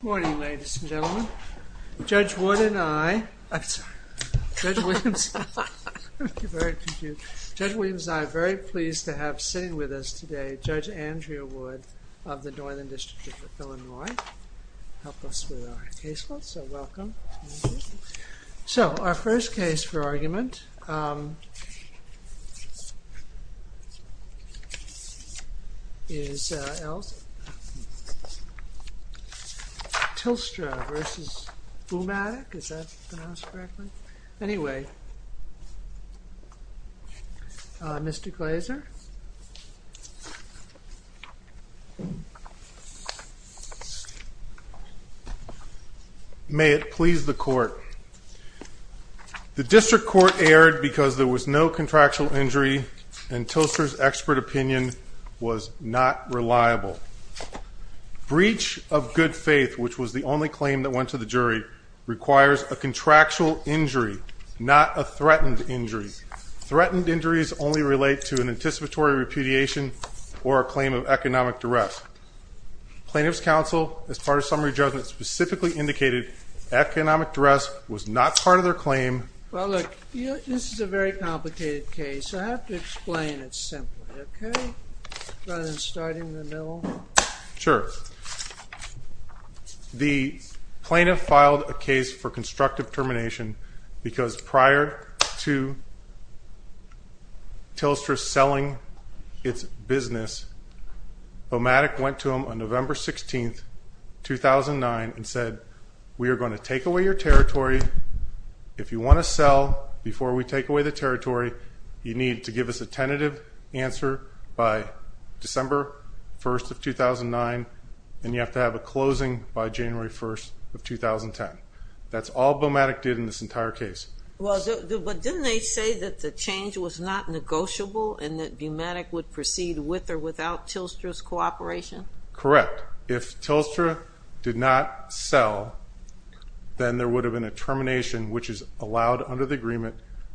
Good morning ladies and gentlemen. Judge Williams and I are very pleased to have sitting with us today Judge Andrea Wood of the Northern District of Illinois to help us with our case Tilstra v. BouMatic, is that pronounced correctly? Anyway, Mr. Glazer. May it please the court. The district court erred because there was no contractual injury and Tilstra's expert opinion was not reliable. Breach of good faith, which was the only claim that went to the jury, requires a contractual injury, not a threatened injury. Threatened injuries only relate to an anticipatory repudiation or a claim of economic duress. Plaintiff's counsel, as part of summary judgment, specifically indicated economic duress was not part of their claim. Well look, this is a very complicated case. I have to explain it simply, okay? Rather than starting in the middle. Sure. The plaintiff filed a case for constructive termination because prior to Tilstra selling its business, BouMatic went to them on November 16, 2009 and said, we are going to take away your territory. If you want to sell before we take away the territory, you need to give us a tentative answer by December 1, 2009 and you have to have a closing by January 1, 2010. That's all BouMatic did in this entire case. But didn't they say that the change was not negotiable and that BouMatic would proceed with or without Tilstra's cooperation? Correct. If Tilstra did not sell, then there would have been a termination which is allowed under the agreement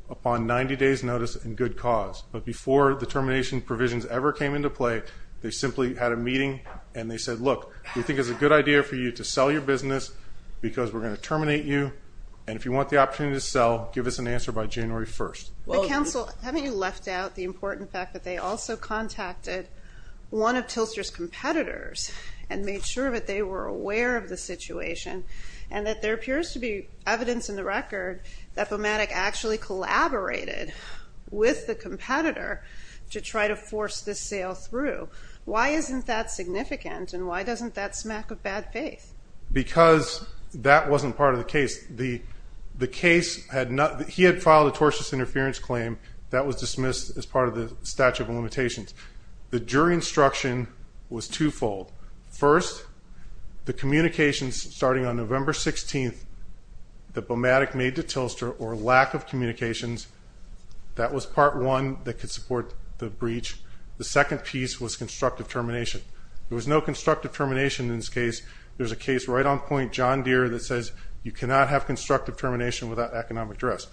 upon 90 days notice and good cause. But before the termination provisions ever came into play, they simply had a meeting and they said, look, we think it's a good idea for you to sell your business because we're going to terminate you and if you want the opportunity to sell, give us an answer by January 1. Counsel, haven't you left out the important fact that they also contacted one of Tilstra's competitors and made sure that they were aware of the situation and that there appears to be evidence in the record that BouMatic actually collaborated with the competitor to try to force this sale through. Why isn't that significant and why doesn't that smack of bad faith? Because that wasn't part of the case. The case had not, he had filed a tortious interference claim that was dismissed as part of the statute of limitations. The jury instruction was twofold. First, the communications starting on November 16th that BouMatic made to Tilstra or lack of communications, that was part one that could support the breach. The second piece was constructive termination. There was no constructive termination in this case. There's a case right on point, John Deere, that says you cannot have constructive termination without economic duress.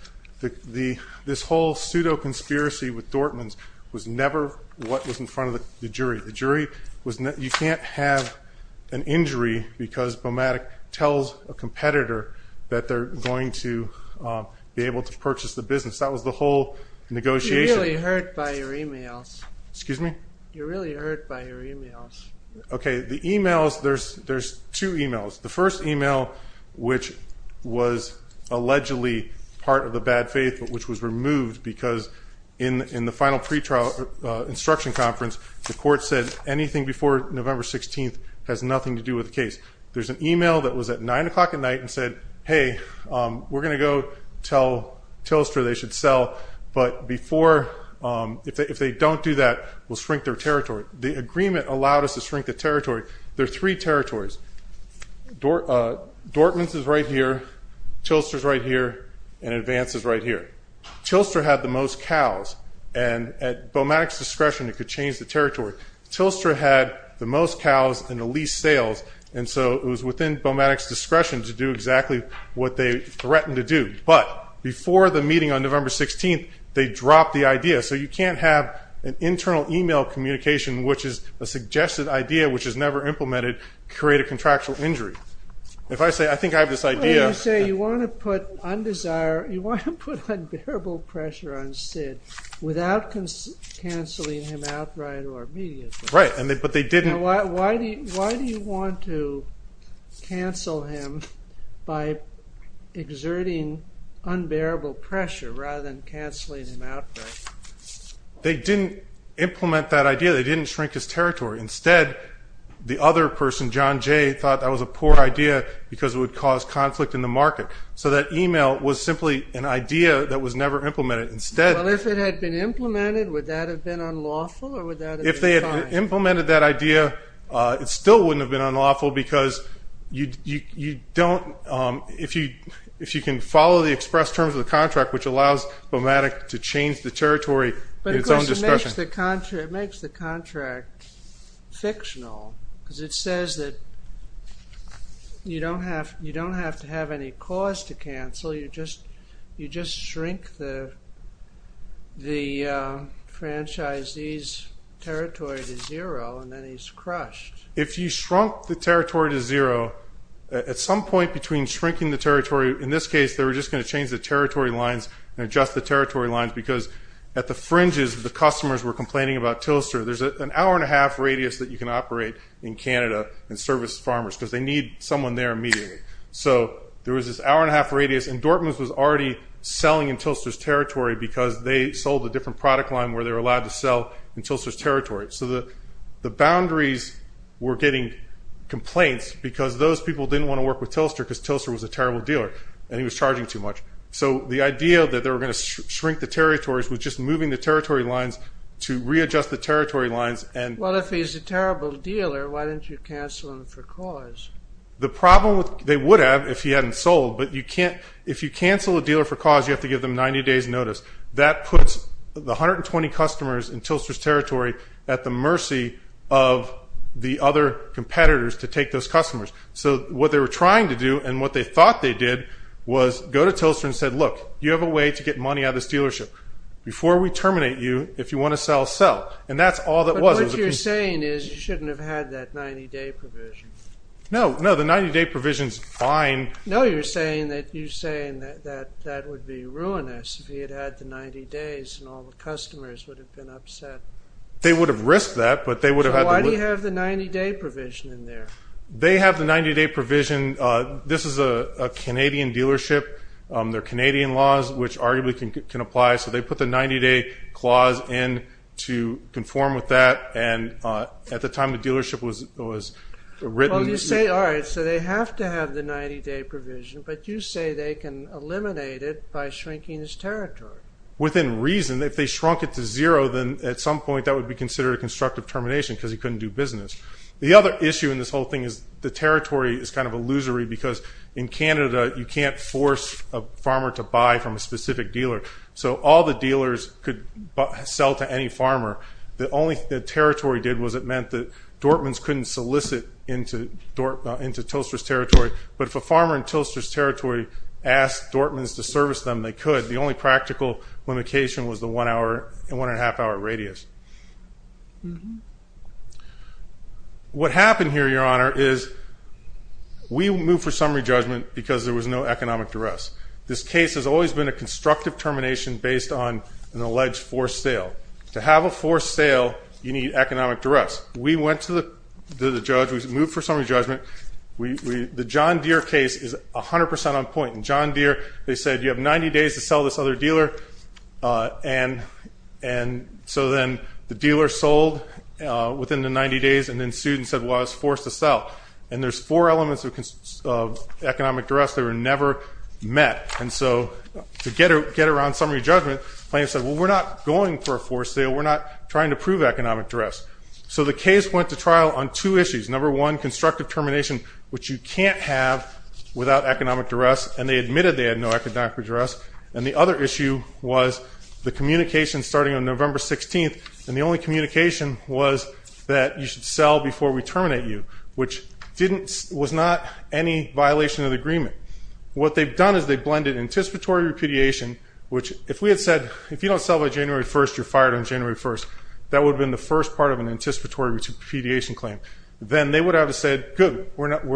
This whole pseudo conspiracy with Dortmans was never what was in front of the jury. The jury was, you can't have an injury because BouMatic tells a competitor that they're going to be able to purchase the business. That was the whole negotiation. You're really hurt by your emails. Excuse me? You're really hurt by your emails. Okay, the emails, there's two emails. The first email, which was allegedly part of the bad faith, but which was removed because in the final pre-trial instruction conference, the court said anything before November 16th has nothing to do with the case. There's an email that was at 9 o'clock at night and said, hey, we're going to go tell Tilstra they should sell, but if they don't do that, we'll shrink their territory. The agreement allowed us to shrink the territory. There are three territories. Dortmans is right here, Tilstra is right here, and Advance is right here. Tilstra had the most cows, and at BouMatic's discretion, it could change the territory. Tilstra had the most cows and the least sales, and so it was within BouMatic's discretion to do exactly what they threatened to do. But before the meeting on November 16th, they dropped the idea. So you can't have an internal email communication, which is a suggested idea, which is never implemented, create a contractual injury. If I say, I think I have this idea. You say you want to put undesired, you want to put unbearable pressure on Sid without canceling him outright or immediately. Right, but they didn't. Why do you want to cancel him by exerting unbearable pressure rather than canceling him outright? They didn't implement that idea. They didn't shrink his territory. Instead, the other person, John Jay, thought that was a poor idea because it would cause conflict in the market. So that email was simply an idea that was never implemented. Well, if it had been implemented, would that have been unlawful, or would that have been fine? If they had implemented that idea, it still wouldn't have been unlawful because if you can follow the express terms of the contract, which allows BouMatic to change the territory in its own discretion. But of course, it makes the contract fictional because it says that you don't have to have any cause to cancel. You just shrink the franchisee's territory to zero, and then he's crushed. If you shrunk the territory to zero, at some point between shrinking the territory, in this case, they were just going to change the territory lines and adjust the territory lines because at the fringes, the customers were complaining about Tilster. There's an hour and a half radius that you can operate in Canada and service farmers because they need someone there immediately. So there was this hour and a half radius, and Dortmans was already selling in Tilster's territory because they sold a different product line where they were allowed to sell in Tilster's territory. So the boundaries were getting complaints because those people didn't want to work with Tilster because Tilster was a terrible dealer, and he was charging too much. So the idea that they were going to shrink the territories was just moving the territory lines to readjust the territory lines. Well, if he's a terrible dealer, why didn't you cancel him for cause? The problem they would have if he hadn't sold, but if you cancel a dealer for cause, you have to give them 90 days notice. That puts the 120 customers in Tilster's territory at the mercy of the other competitors to take those customers. So what they were trying to do and what they thought they did was go to Tilster and said, look, you have a way to get money out of this dealership. Before we terminate you, if you want to sell, sell. And that's all that was. But what you're saying is you shouldn't have had that 90-day provision. No, no, the 90-day provision is fine. No, you're saying that that would be ruinous if he had had the 90 days and all the customers would have been upset. They would have risked that, but they would have had the risk. So why do you have the 90-day provision in there? They have the 90-day provision. This is a Canadian dealership. They're Canadian laws, which arguably can apply. So they put the 90-day clause in to conform with that. And at the time the dealership was written. Well, you say, all right, so they have to have the 90-day provision, but you say they can eliminate it by shrinking his territory. Within reason, if they shrunk it to zero, then at some point that would be considered a constructive termination because he couldn't do business. The other issue in this whole thing is the territory is kind of illusory because in Canada you can't force a farmer to buy from a specific dealer. So all the dealers could sell to any farmer. The only thing the territory did was it meant that Dortmans couldn't solicit into Tilster's territory. But if a farmer in Tilster's territory asked Dortmans to service them, they could. The only practical limitation was the one-and-a-half-hour radius. What happened here, Your Honor, is we moved for summary judgment because there was no economic duress. This case has always been a constructive termination based on an alleged forced sale. To have a forced sale, you need economic duress. We went to the judge. We moved for summary judgment. The John Deere case is 100% on point. In John Deere they said you have 90 days to sell this other dealer, and so then the dealer sold within the 90 days, and then sued and said, well, I was forced to sell. And there's four elements of economic duress that were never met. And so to get around summary judgment, the plaintiff said, well, we're not going for a forced sale. We're not trying to prove economic duress. So the case went to trial on two issues. Number one, constructive termination, which you can't have without economic duress, and they admitted they had no economic duress. And the other issue was the communication starting on November 16th, and the only communication was that you should sell before we terminate you, which was not any violation of the agreement. What they've done is they've blended anticipatory repudiation, which if we had said if you don't sell by January 1st, you're fired on January 1st, that would have been the first part of an anticipatory repudiation claim. Then they would have said, good, we're not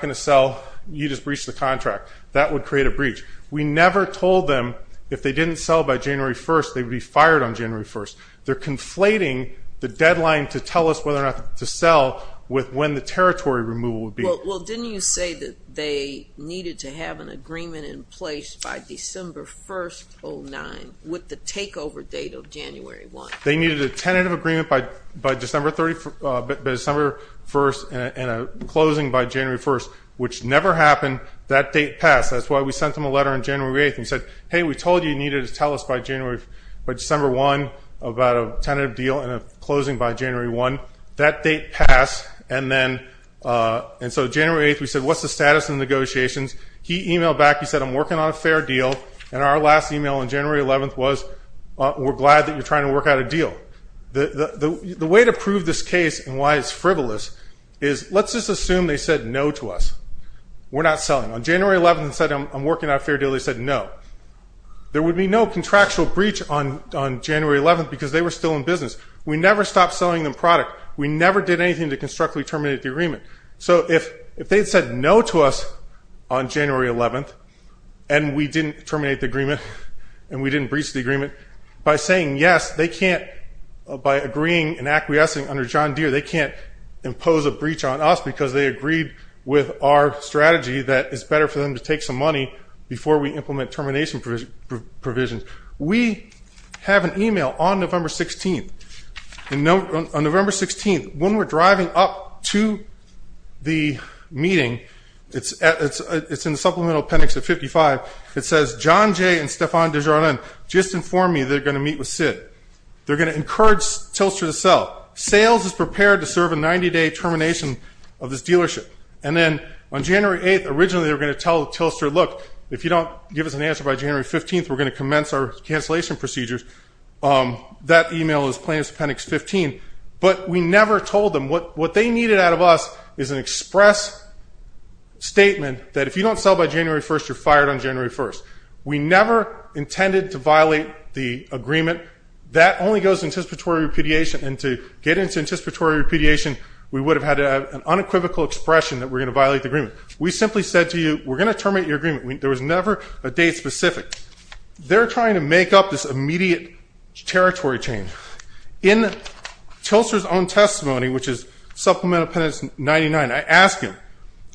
going to sell. You just breached the contract. That would create a breach. We never told them if they didn't sell by January 1st they would be fired on January 1st. They're conflating the deadline to tell us whether or not to sell with when the territory removal would be. Well, didn't you say that they needed to have an agreement in place by December 1st, 2009, with the takeover date of January 1st? They needed a tentative agreement by December 1st and a closing by January 1st, which never happened. That date passed. That's why we sent them a letter on January 8th and said, hey, we told you you needed to tell us by December 1st about a tentative deal and a closing by January 1st. That date passed. And so January 8th we said, what's the status of the negotiations? He emailed back. He said, I'm working on a fair deal. And our last email on January 11th was, we're glad that you're trying to work out a deal. The way to prove this case and why it's frivolous is let's just assume they said no to us. We're not selling. On January 11th they said, I'm working on a fair deal. They said no. There would be no contractual breach on January 11th because they were still in business. We never stopped selling them product. We never did anything to constructively terminate the agreement. So if they had said no to us on January 11th and we didn't terminate the agreement and we didn't breach the agreement, by saying yes, they can't, by agreeing and acquiescing under John Deere, they can't impose a breach on us because they agreed with our strategy that it's better for them to take some money before we implement termination provisions. We have an email on November 16th. On November 16th, when we're driving up to the meeting, it's in the supplemental appendix of 55, it says, John Jay and Stéphane Desjardins just informed me they're going to meet with Sid. They're going to encourage Tilster to sell. Sales is prepared to serve a 90-day termination of this dealership. And then on January 8th, originally they were going to tell Tilster, look, if you don't give us an answer by January 15th, we're going to commence our cancellation procedures. That email is plaintiff's appendix 15. But we never told them. What they needed out of us is an express statement that if you don't sell by January 1st, you're fired on January 1st. We never intended to violate the agreement. That only goes to anticipatory repudiation. And to get into anticipatory repudiation, we would have had an unequivocal expression that we're going to violate the agreement. We simply said to you, we're going to terminate your agreement. There was never a date specific. They're trying to make up this immediate territory change. In Tilster's own testimony, which is supplemental appendix 99, I asked him,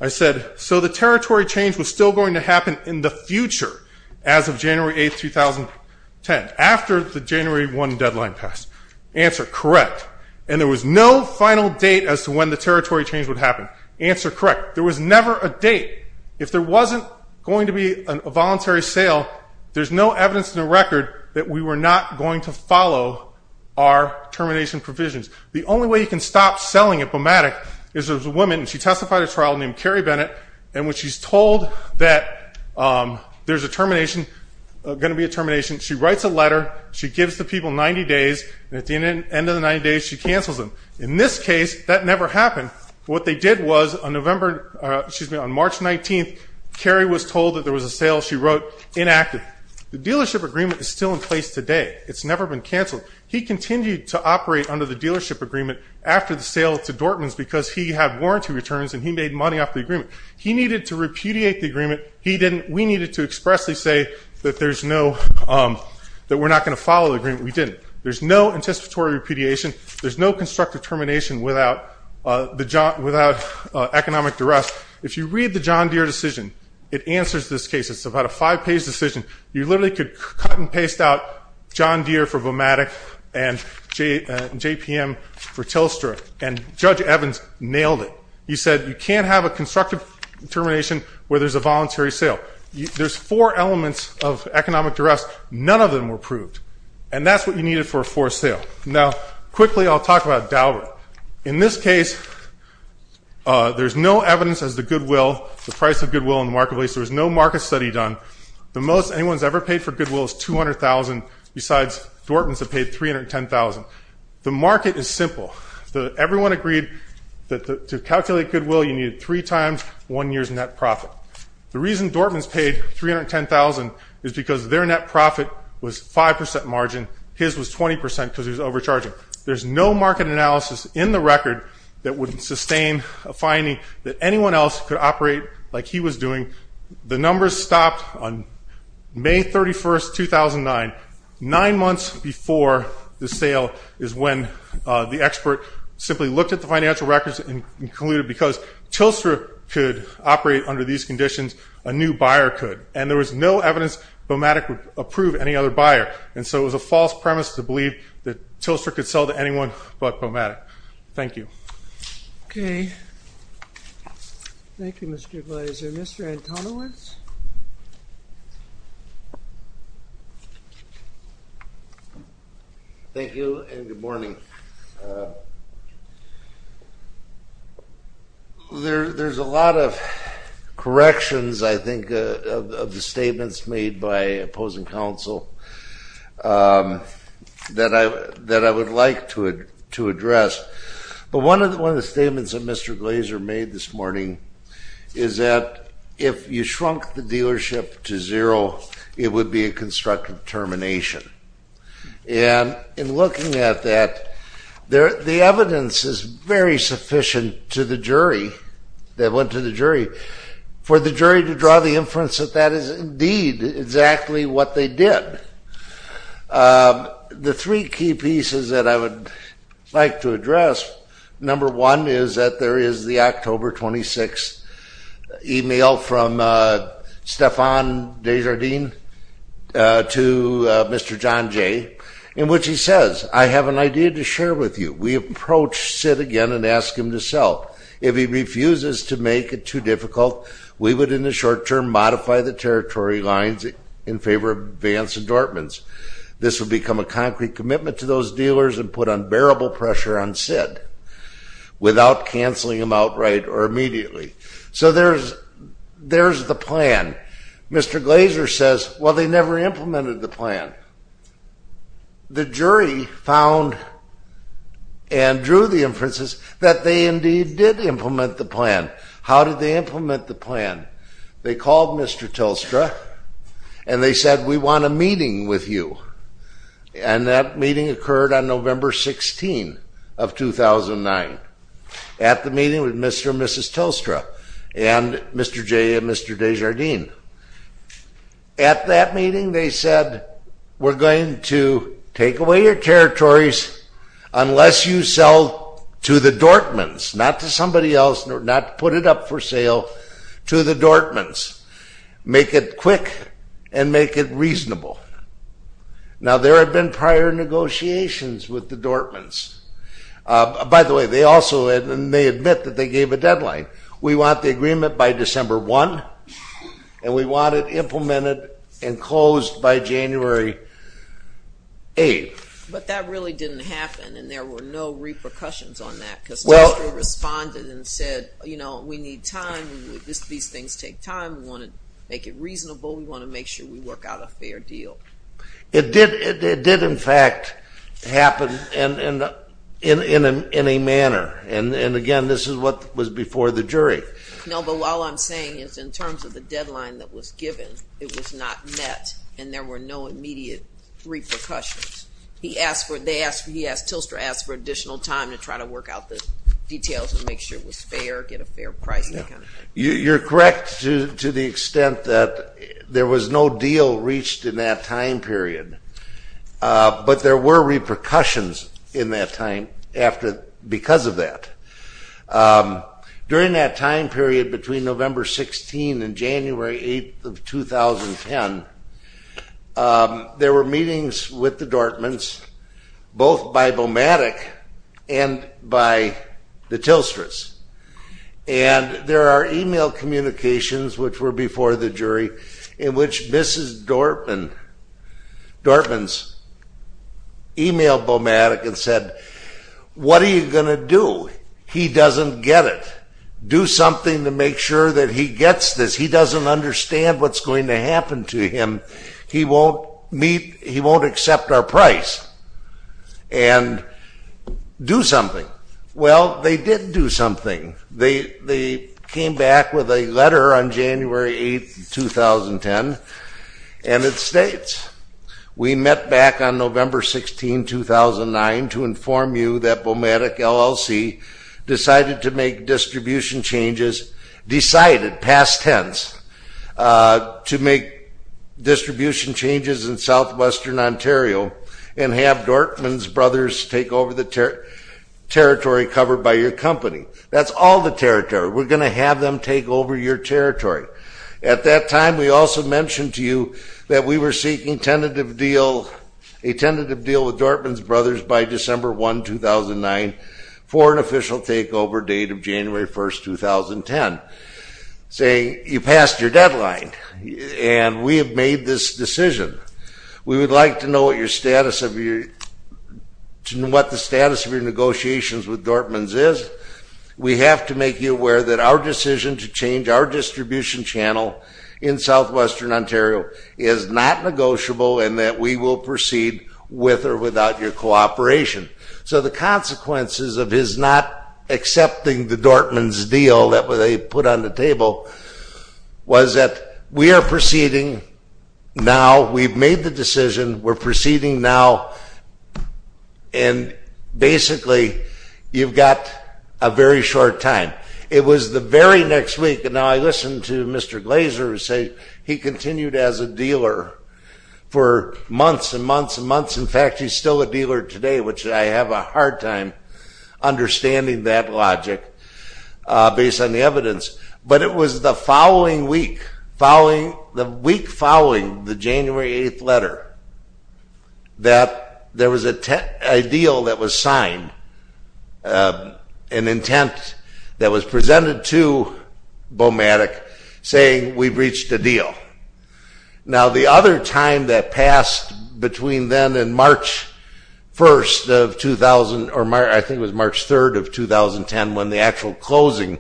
I said, so the territory change was still going to happen in the future as of January 8th, 2010, after the January 1 deadline passed? Answer, correct. And there was no final date as to when the territory change would happen? Answer, correct. There was never a date. If there wasn't going to be a voluntary sale, there's no evidence in the record that we were not going to follow our termination provisions. The only way you can stop selling a BMATIC is if there's a woman, and she testified at a trial named Carrie Bennett, and when she's told that there's a termination, going to be a termination, she writes a letter, she gives the people 90 days, and at the end of the 90 days, she cancels them. In this case, that never happened. What they did was, on March 19th, Carrie was told that there was a sale. She wrote, inactive. The dealership agreement is still in place today. It's never been canceled. He continued to operate under the dealership agreement after the sale to Dortmans because he had warranty returns and he made money off the agreement. He needed to repudiate the agreement. We needed to expressly say that we're not going to follow the agreement. We didn't. There's no anticipatory repudiation. There's no constructive termination without economic duress. If you read the John Deere decision, it answers this case. It's about a five-page decision. You literally could cut and paste out John Deere for BMATIC and JPM for Telstra, and Judge Evans nailed it. He said you can't have a constructive termination where there's a voluntary sale. There's four elements of economic duress. None of them were approved, and that's what you needed for a forced sale. Now, quickly, I'll talk about DALRA. In this case, there's no evidence as to goodwill, the price of goodwill in the marketplace. There was no market study done. The most anyone's ever paid for goodwill is $200,000. Besides, Dortmans have paid $310,000. The market is simple. Everyone agreed that to calculate goodwill, you needed three times one year's net profit. The reason Dortmans paid $310,000 is because their net profit was 5% margin. His was 20% because he was overcharging. There's no market analysis in the record that would sustain a finding that anyone else could operate like he was doing. The numbers stopped on May 31, 2009. Nine months before the sale is when the expert simply looked at the financial records and concluded because Telstra could operate under these conditions, a new buyer could. And there was no evidence BMATIC would approve any other buyer. And so it was a false premise to believe that Telstra could sell to anyone but BMATIC. Thank you. Okay. Thank you, Mr. Gleiser. Mr. Antonowitz? Thank you, and good morning. There's a lot of corrections, I think, of the statements made by opposing counsel that I would like to address. But one of the statements that Mr. Gleiser made this morning is that if you shrunk the dealership to zero, it would be a constructive termination. And in looking at that, the evidence is very sufficient to the jury, that went to the jury, for the jury to draw the inference that that is indeed exactly what they did. The three key pieces that I would like to address, number one is that there is the October 26th email from Stephan Desjardins to Mr. John Jay, in which he says, I have an idea to share with you. We approach Sid again and ask him to sell. If he refuses to make it too difficult, we would, in the short term, modify the territory lines in favor of Vance and Dortmans. This would become a concrete commitment to those dealers and put unbearable pressure on Sid without canceling him outright or immediately. So there's the plan. Mr. Gleiser says, well, they never implemented the plan. The jury found and drew the inferences that they indeed did implement the plan. How did they implement the plan? They called Mr. Telstra and they said, we want a meeting with you. And that meeting occurred on November 16th of 2009 at the meeting with Mr. and Mrs. Telstra and Mr. Jay and Mr. Desjardins. At that meeting, they said, we're going to take away your territories unless you sell to the Dortmans, not to somebody else, not put it up for sale to the Dortmans. Make it quick and make it reasonable. Now, there have been prior negotiations with the Dortmans. By the way, they also may admit that they gave a deadline. We want the agreement by December 1, and we want it implemented and closed by January 8. But that really didn't happen, and there were no repercussions on that, because Telstra responded and said, you know, we need time. These things take time. We want to make it reasonable. We want to make sure we work out a fair deal. It did, in fact, happen in a manner. And, again, this is what was before the jury. No, but all I'm saying is in terms of the deadline that was given, it was not met, and there were no immediate repercussions. Telstra asked for additional time to try to work out the details and make sure it was fair, get a fair price and that kind of thing. You're correct to the extent that there was no deal reached in that time period, but there were repercussions in that time because of that. During that time period between November 16 and January 8 of 2010, there were meetings with the Dortmans, both by Beaumatic and by the Telstras, and there are e-mail communications, which were before the jury, in which Mrs. Dortman's e-mailed Beaumatic and said, what are you going to do? He doesn't get it. Do something to make sure that he gets this. He doesn't understand what's going to happen to him. He won't meet, he won't accept our price. And do something. Well, they did do something. They came back with a letter on January 8, 2010, and it states, we met back on November 16, 2009 to inform you that Beaumatic LLC decided to make distribution changes, decided, past tense, to make distribution changes in southwestern Ontario and have Dortman's Brothers take over the territory covered by your company. That's all the territory. We're going to have them take over your territory. At that time, we also mentioned to you that we were seeking a tentative deal with Dortman's Brothers by December 1, 2009, for an official takeover date of January 1, 2010, saying you passed your deadline and we have made this decision. We would like to know what the status of your negotiations with Dortman's is. We have to make you aware that our decision to change our distribution channel in southwestern Ontario is not negotiable and that we will proceed with or without your cooperation. So the consequences of his not accepting the Dortman's deal that they put on the table was that we are proceeding now, we've made the decision, we're proceeding now, and basically you've got a very short time. It was the very next week, and now I listen to Mr. Glazer say he continued as a dealer for months and months and months. In fact, he's still a dealer today, which I have a hard time understanding that logic based on the evidence. But it was the following week, the week following the January 8th letter, that there was a deal that was signed, an intent that was presented to Bomatic saying we've reached a deal. Now the other time that passed between then and March 1st of 2000, or I think it was March 3rd of 2010 when the actual closing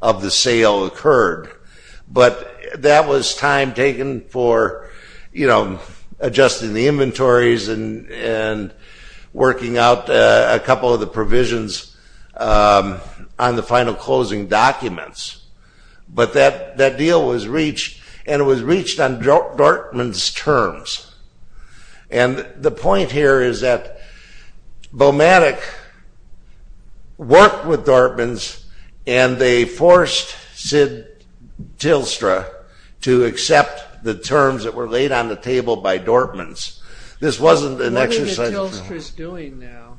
of the sale occurred, but that was time taken for, you know, adjusting the inventories and working out a couple of the provisions on the final closing documents. But that deal was reached, and it was reached on Dortman's terms. And the point here is that Bomatic worked with Dortman's and they forced Sid Tilstra to accept the terms that were laid on the table by Dortman's. This wasn't an exercise in trade. What are the Tilstras doing now?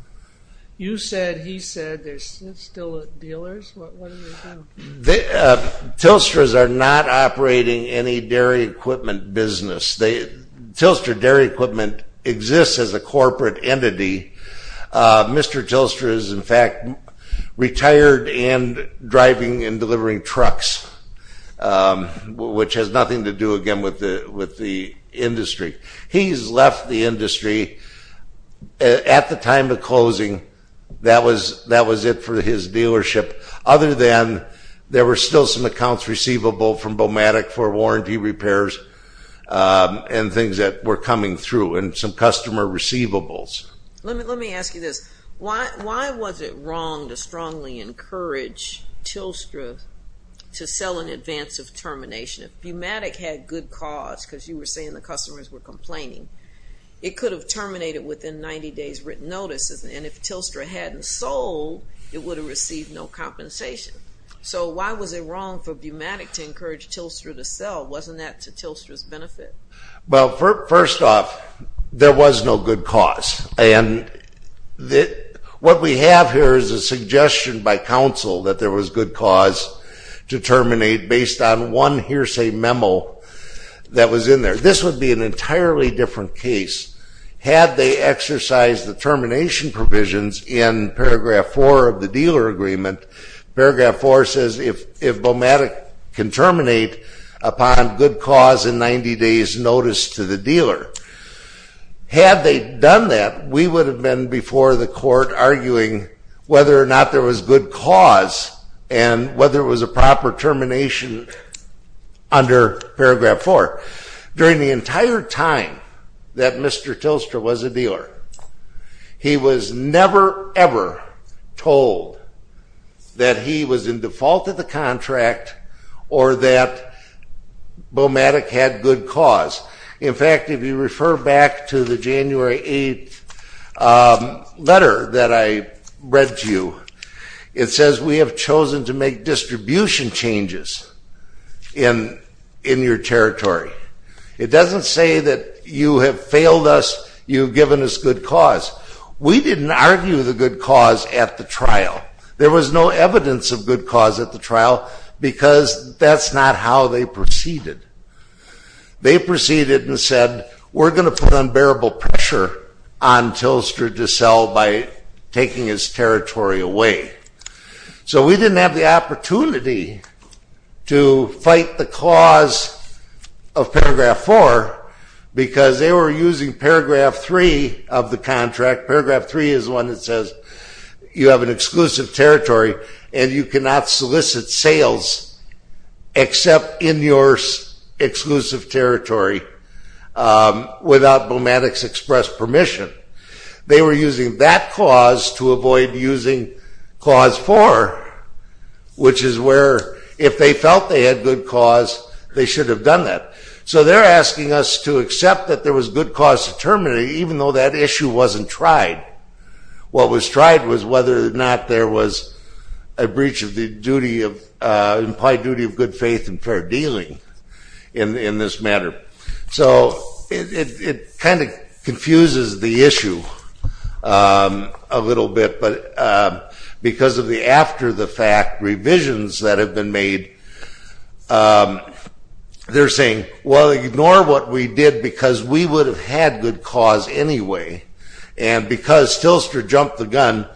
You said, he said, they're still dealers. What are they doing? Tilstras are not operating any dairy equipment business. Tilstra Dairy Equipment exists as a corporate entity. Mr. Tilstra is, in fact, retired and driving and delivering trucks, which has nothing to do, again, with the industry. He's left the industry. At the time of closing, that was it for his dealership, other than there were still some accounts receivable from Bomatic for warranty repairs and things that were coming through and some customer receivables. Let me ask you this. Why was it wrong to strongly encourage Tilstra to sell in advance of termination? If Bomatic had good cause, because you were saying the customers were complaining, it could have terminated within 90 days' written notice. And if Tilstra hadn't sold, it would have received no compensation. So why was it wrong for Bomatic to encourage Tilstra to sell? Wasn't that to Tilstra's benefit? Well, first off, there was no good cause. And what we have here is a suggestion by counsel that there was good cause to terminate based on one hearsay memo that was in there. This would be an entirely different case. Had they exercised the termination provisions in Paragraph 4 of the dealer agreement, Paragraph 4 says if Bomatic can terminate upon good cause in 90 days' notice to the dealer. Had they done that, we would have been before the court arguing whether or not there was good cause and whether it was a proper termination under Paragraph 4. During the entire time that Mr. Tilstra was a dealer, he was never, ever told that he was in default of the contract or that Bomatic had good cause. In fact, if you refer back to the January 8th letter that I read to you, it says we have chosen to make distribution changes in your territory. It doesn't say that you have failed us, you've given us good cause. We didn't argue the good cause at the trial. There was no evidence of good cause at the trial because that's not how they proceeded. They proceeded and said we're going to put unbearable pressure on Tilstra to sell by taking his territory away. So we didn't have the opportunity to fight the cause of Paragraph 4 because they were using Paragraph 3 of the contract. Paragraph 3 is one that says you have an exclusive territory and you cannot solicit sales except in your exclusive territory without Bomatic's express permission. They were using that cause to avoid using Clause 4, which is where if they felt they had good cause, they should have done that. So they're asking us to accept that there was good cause to terminate even though that issue wasn't tried. What was tried was whether or not there was a breach of the duty, implied duty of good faith and fair dealing in this matter. So it kind of confuses the issue a little bit because of the after-the-fact revisions that have been made. They're saying, well, ignore what we did because we would have had good cause anyway and because Tilstra jumped the gun,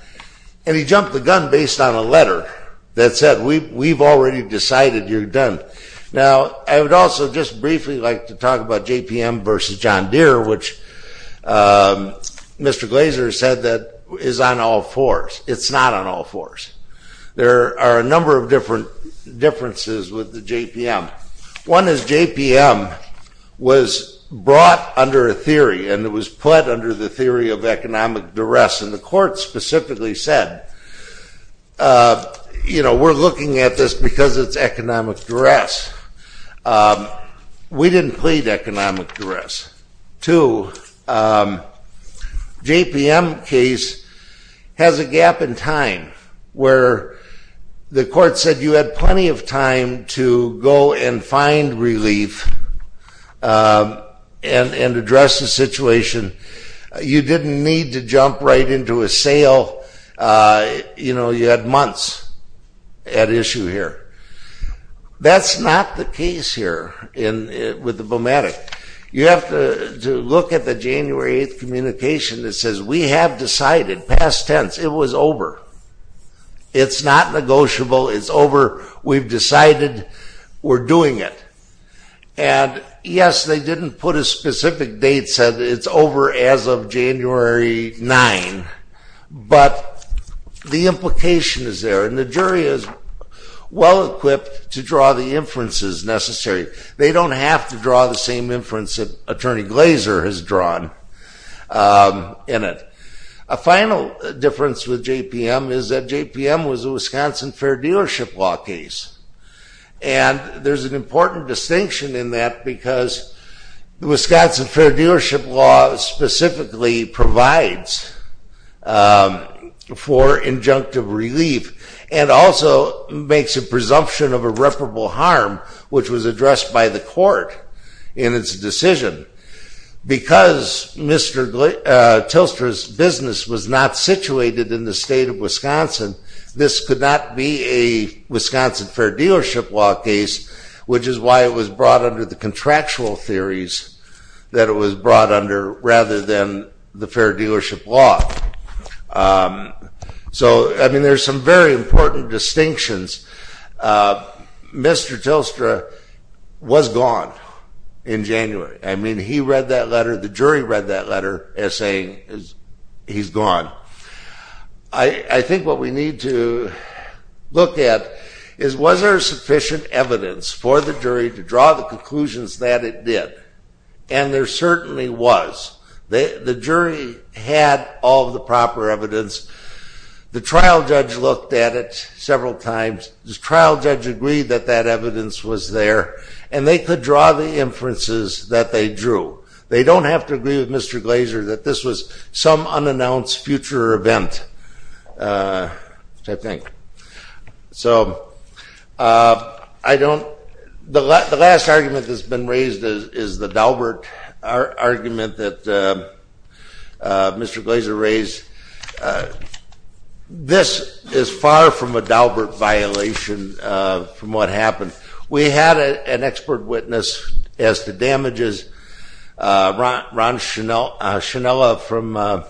and he jumped the gun based on a letter that said we've already decided you're done. Now, I would also just briefly like to talk about JPM versus John Deere, which Mr. Glazer said that is on all fours. It's not on all fours. There are a number of differences with the JPM. One is JPM was brought under a theory and it was put under the theory of economic duress, and the court specifically said, you know, we're looking at this because it's economic duress. We didn't plead economic duress. Two, JPM case has a gap in time where the court said you had plenty of time to go and find relief and address the situation. You didn't need to jump right into a sale. You know, you had months at issue here. That's not the case here with the BMATIC. You have to look at the January 8th communication that says, we have decided, past tense, it was over. It's not negotiable. It's over. We've decided we're doing it. And yes, they didn't put a specific date, said it's over as of January 9, but the implication is there, and the jury is well-equipped to draw the inferences necessary. They don't have to draw the same inference that Attorney Glazer has drawn in it. A final difference with JPM is that JPM was a Wisconsin Fair Dealership Law case, and there's an important distinction in that because the Wisconsin Fair Dealership Law specifically provides for injunctive relief and also makes a presumption of irreparable harm, which was addressed by the court in its decision. Because Mr. Tilstra's business was not situated in the state of Wisconsin, this could not be a Wisconsin Fair Dealership Law case, which is why it was brought under the contractual theories that it was brought under rather than the Fair Dealership Law. So, I mean, there's some very important distinctions. Mr. Tilstra was gone in January. I mean, he read that letter. The jury read that letter as saying he's gone. I think what we need to look at is, was there sufficient evidence for the jury to draw the conclusions that it did? And there certainly was. The jury had all the proper evidence. The trial judge looked at it several times. The trial judge agreed that that evidence was there, and they could draw the inferences that they drew. They don't have to agree with Mr. Glazer that this was some unannounced future event, I think. So I don't... The last argument that's been raised is the Daubert argument that Mr. Glazer raised. This is far from a Daubert violation from what happened. We had an expert witness as to damages. Ron Schinella from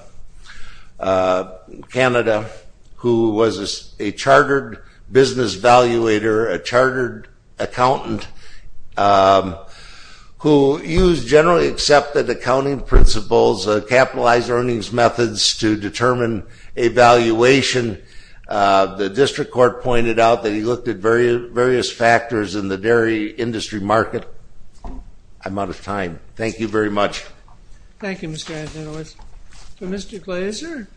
Canada, who was a chartered business valuator, a chartered accountant, who used generally accepted accounting principles, capitalized earnings methods to determine a valuation. The district court pointed out that he looked at various factors in the dairy industry market. I'm out of time. Thank you very much. Thank you, Mr. Adler. Mr. Glazer?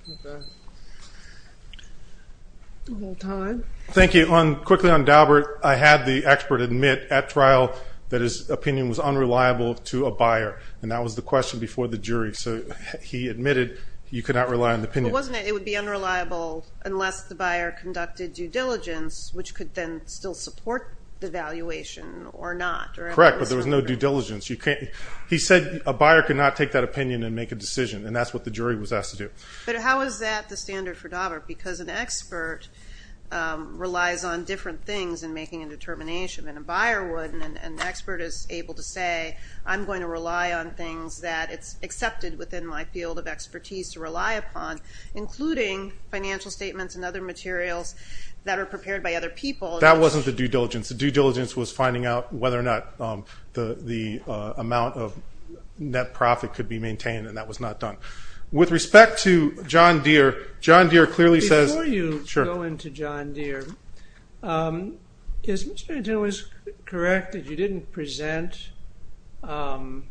Thank you. Quickly on Daubert, I had the expert admit at trial that his opinion was unreliable to a buyer, and that was the question before the jury. So he admitted you could not rely on the opinion. But wasn't it it would be unreliable unless the buyer conducted due diligence, which could then still support the valuation or not? Correct, but there was no due diligence. He said a buyer could not take that opinion and make a decision, and that's what the jury was asked to do. But how is that the standard for Daubert? Because an expert relies on different things in making a determination, and a buyer would and an expert is able to say, I'm going to rely on things that it's accepted within my field of expertise to rely upon, including financial statements and other materials that are prepared by other people. That wasn't the due diligence. The due diligence was finding out whether or not the amount of net profit could be maintained, and that was not done. With respect to John Deere, John Deere clearly says... Before you go into John Deere, is Mr. Antonello correct that you didn't present... Good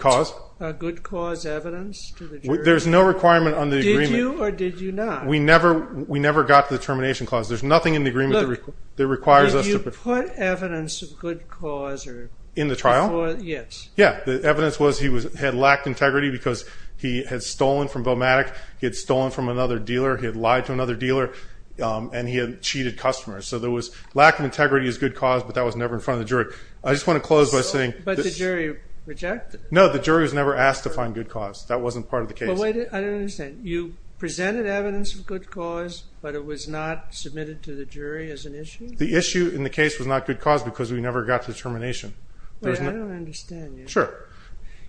cause. ...a good cause evidence to the jury? There's no requirement on the agreement. Did you or did you not? We never got to the termination clause. There's nothing in the agreement that requires us to... Did you put evidence of good cause before? In the trial? Yes. Yeah. The evidence was he had lacked integrity because he had stolen from Velmatic, he had stolen from another dealer, he had lied to another dealer, and he had cheated customers. So there was lack of integrity as good cause, but that was never in front of the jury. I just want to close by saying... But the jury rejected it. No, the jury was never asked to find good cause. That wasn't part of the case. I don't understand. You presented evidence of good cause, but it was not submitted to the jury as an issue? The issue in the case was not good cause because we never got to termination. Wait, I don't understand you. Sure.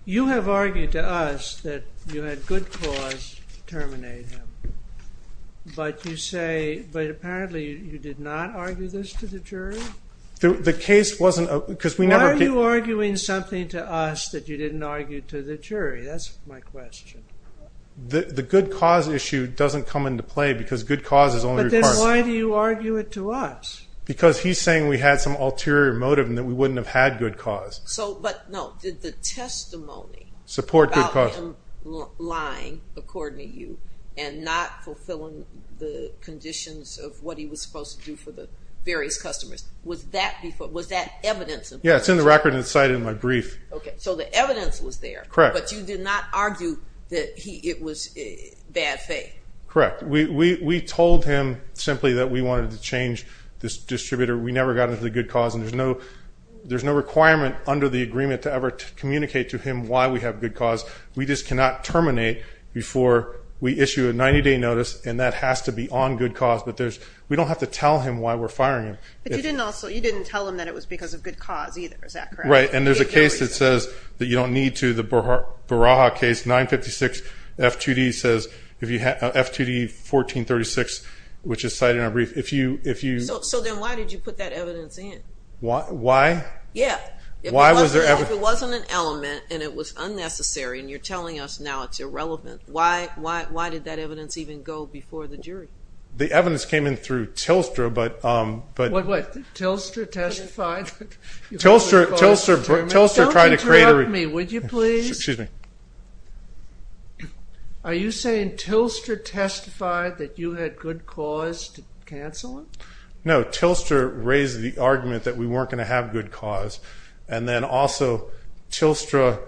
You have argued to us that you had good cause to terminate him, but you say... but apparently you did not argue this to the jury? The case wasn't... Why are you arguing something to us that you didn't argue to the jury? That's my question. The good cause issue doesn't come into play because good cause is only... But then why do you argue it to us? Because he's saying we had some ulterior motive and that we wouldn't have had good cause. But, no, did the testimony... Support good cause. ...about him lying, according to you, and not fulfilling the conditions of what he was supposed to do for the various customers, was that evidence? Yeah, it's in the record and cited in my brief. Okay, so the evidence was there. Correct. But you did not argue that it was bad faith? Correct. We told him simply that we wanted to change this distributor. We never got into the good cause, and there's no requirement under the agreement to ever communicate to him why we have good cause. We just cannot terminate before we issue a 90-day notice, and that has to be on good cause. But we don't have to tell him why we're firing him. But you didn't tell him that it was because of good cause either. Is that correct? Right, and there's a case that says that you don't need to. The Baraha case, 956 F2D, says F2D 1436, which is cited in our brief. So then why did you put that evidence in? Why? Yeah. If it wasn't an element and it was unnecessary and you're telling us now it's irrelevant, why did that evidence even go before the jury? The evidence came in through Tilstra. What, what? Tilstra testified? Tilstra tried to create a review. Don't interrupt me, would you please? Excuse me. Are you saying Tilstra testified that you had good cause to cancel it? No, Tilstra raised the argument that we weren't going to have good cause, and then also Tilstra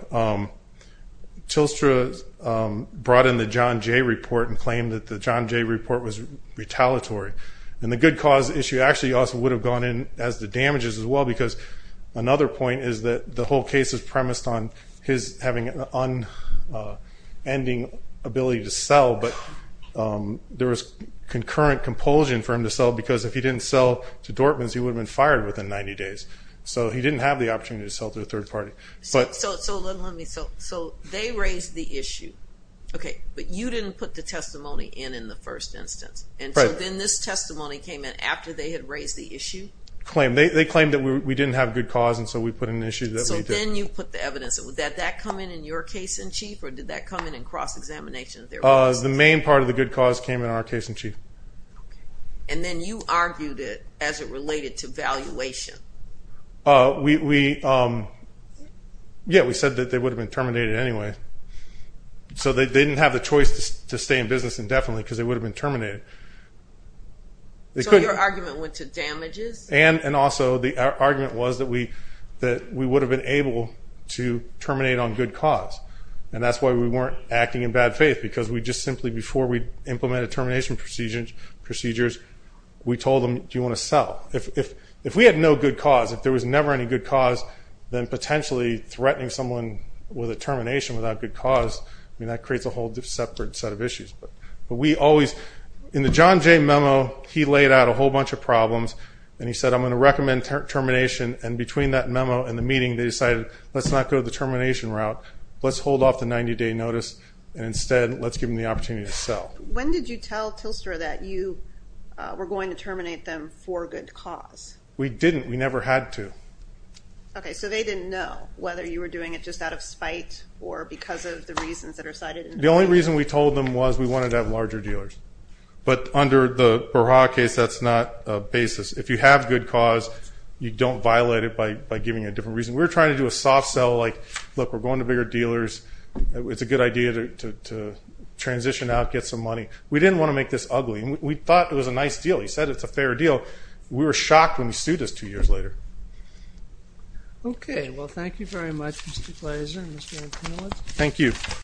brought in the John Jay report and claimed that the John Jay report was retaliatory. And the good cause issue actually also would have gone in as the damages as well because another point is that the whole case is premised on his having an unending ability to sell, but there was concurrent compulsion for him to sell because if he didn't sell to Dortmans, he would have been fired within 90 days. So he didn't have the opportunity to sell to a third party. So they raised the issue, okay, but you didn't put the testimony in in the first instance. And so then this testimony came in after they had raised the issue? They claimed that we didn't have good cause, and so we put an issue that we did. And then you put the evidence. Would that come in in your case in chief, or did that come in in cross-examination? The main part of the good cause came in our case in chief. And then you argued it as it related to valuation. Yeah, we said that they would have been terminated anyway. So they didn't have the choice to stay in business indefinitely because they would have been terminated. So your argument went to damages? And also the argument was that we would have been able to terminate on good cause, and that's why we weren't acting in bad faith because we just simply before we implemented termination procedures, we told them, do you want to sell? If we had no good cause, if there was never any good cause, then potentially threatening someone with a termination without good cause, I mean, that creates a whole separate set of issues. But we always, in the John Jay memo, he laid out a whole bunch of problems, and he said I'm going to recommend termination, and between that memo and the meeting they decided let's not go the termination route, let's hold off the 90-day notice, and instead let's give them the opportunity to sell. When did you tell Tilstra that you were going to terminate them for good cause? We didn't. We never had to. Okay. So they didn't know whether you were doing it just out of spite or because of the reasons that are cited in the memo? The only reason we told them was we wanted to have larger dealers. But under the Berha case, that's not a basis. If you have good cause, you don't violate it by giving a different reason. We were trying to do a soft sell, like, look, we're going to bigger dealers. It's a good idea to transition out, get some money. We didn't want to make this ugly. We thought it was a nice deal. He said it's a fair deal. We were shocked when he sued us two years later. Okay. Well, thank you very much, Mr. Glazer and Mr. Antonelli. Thank you.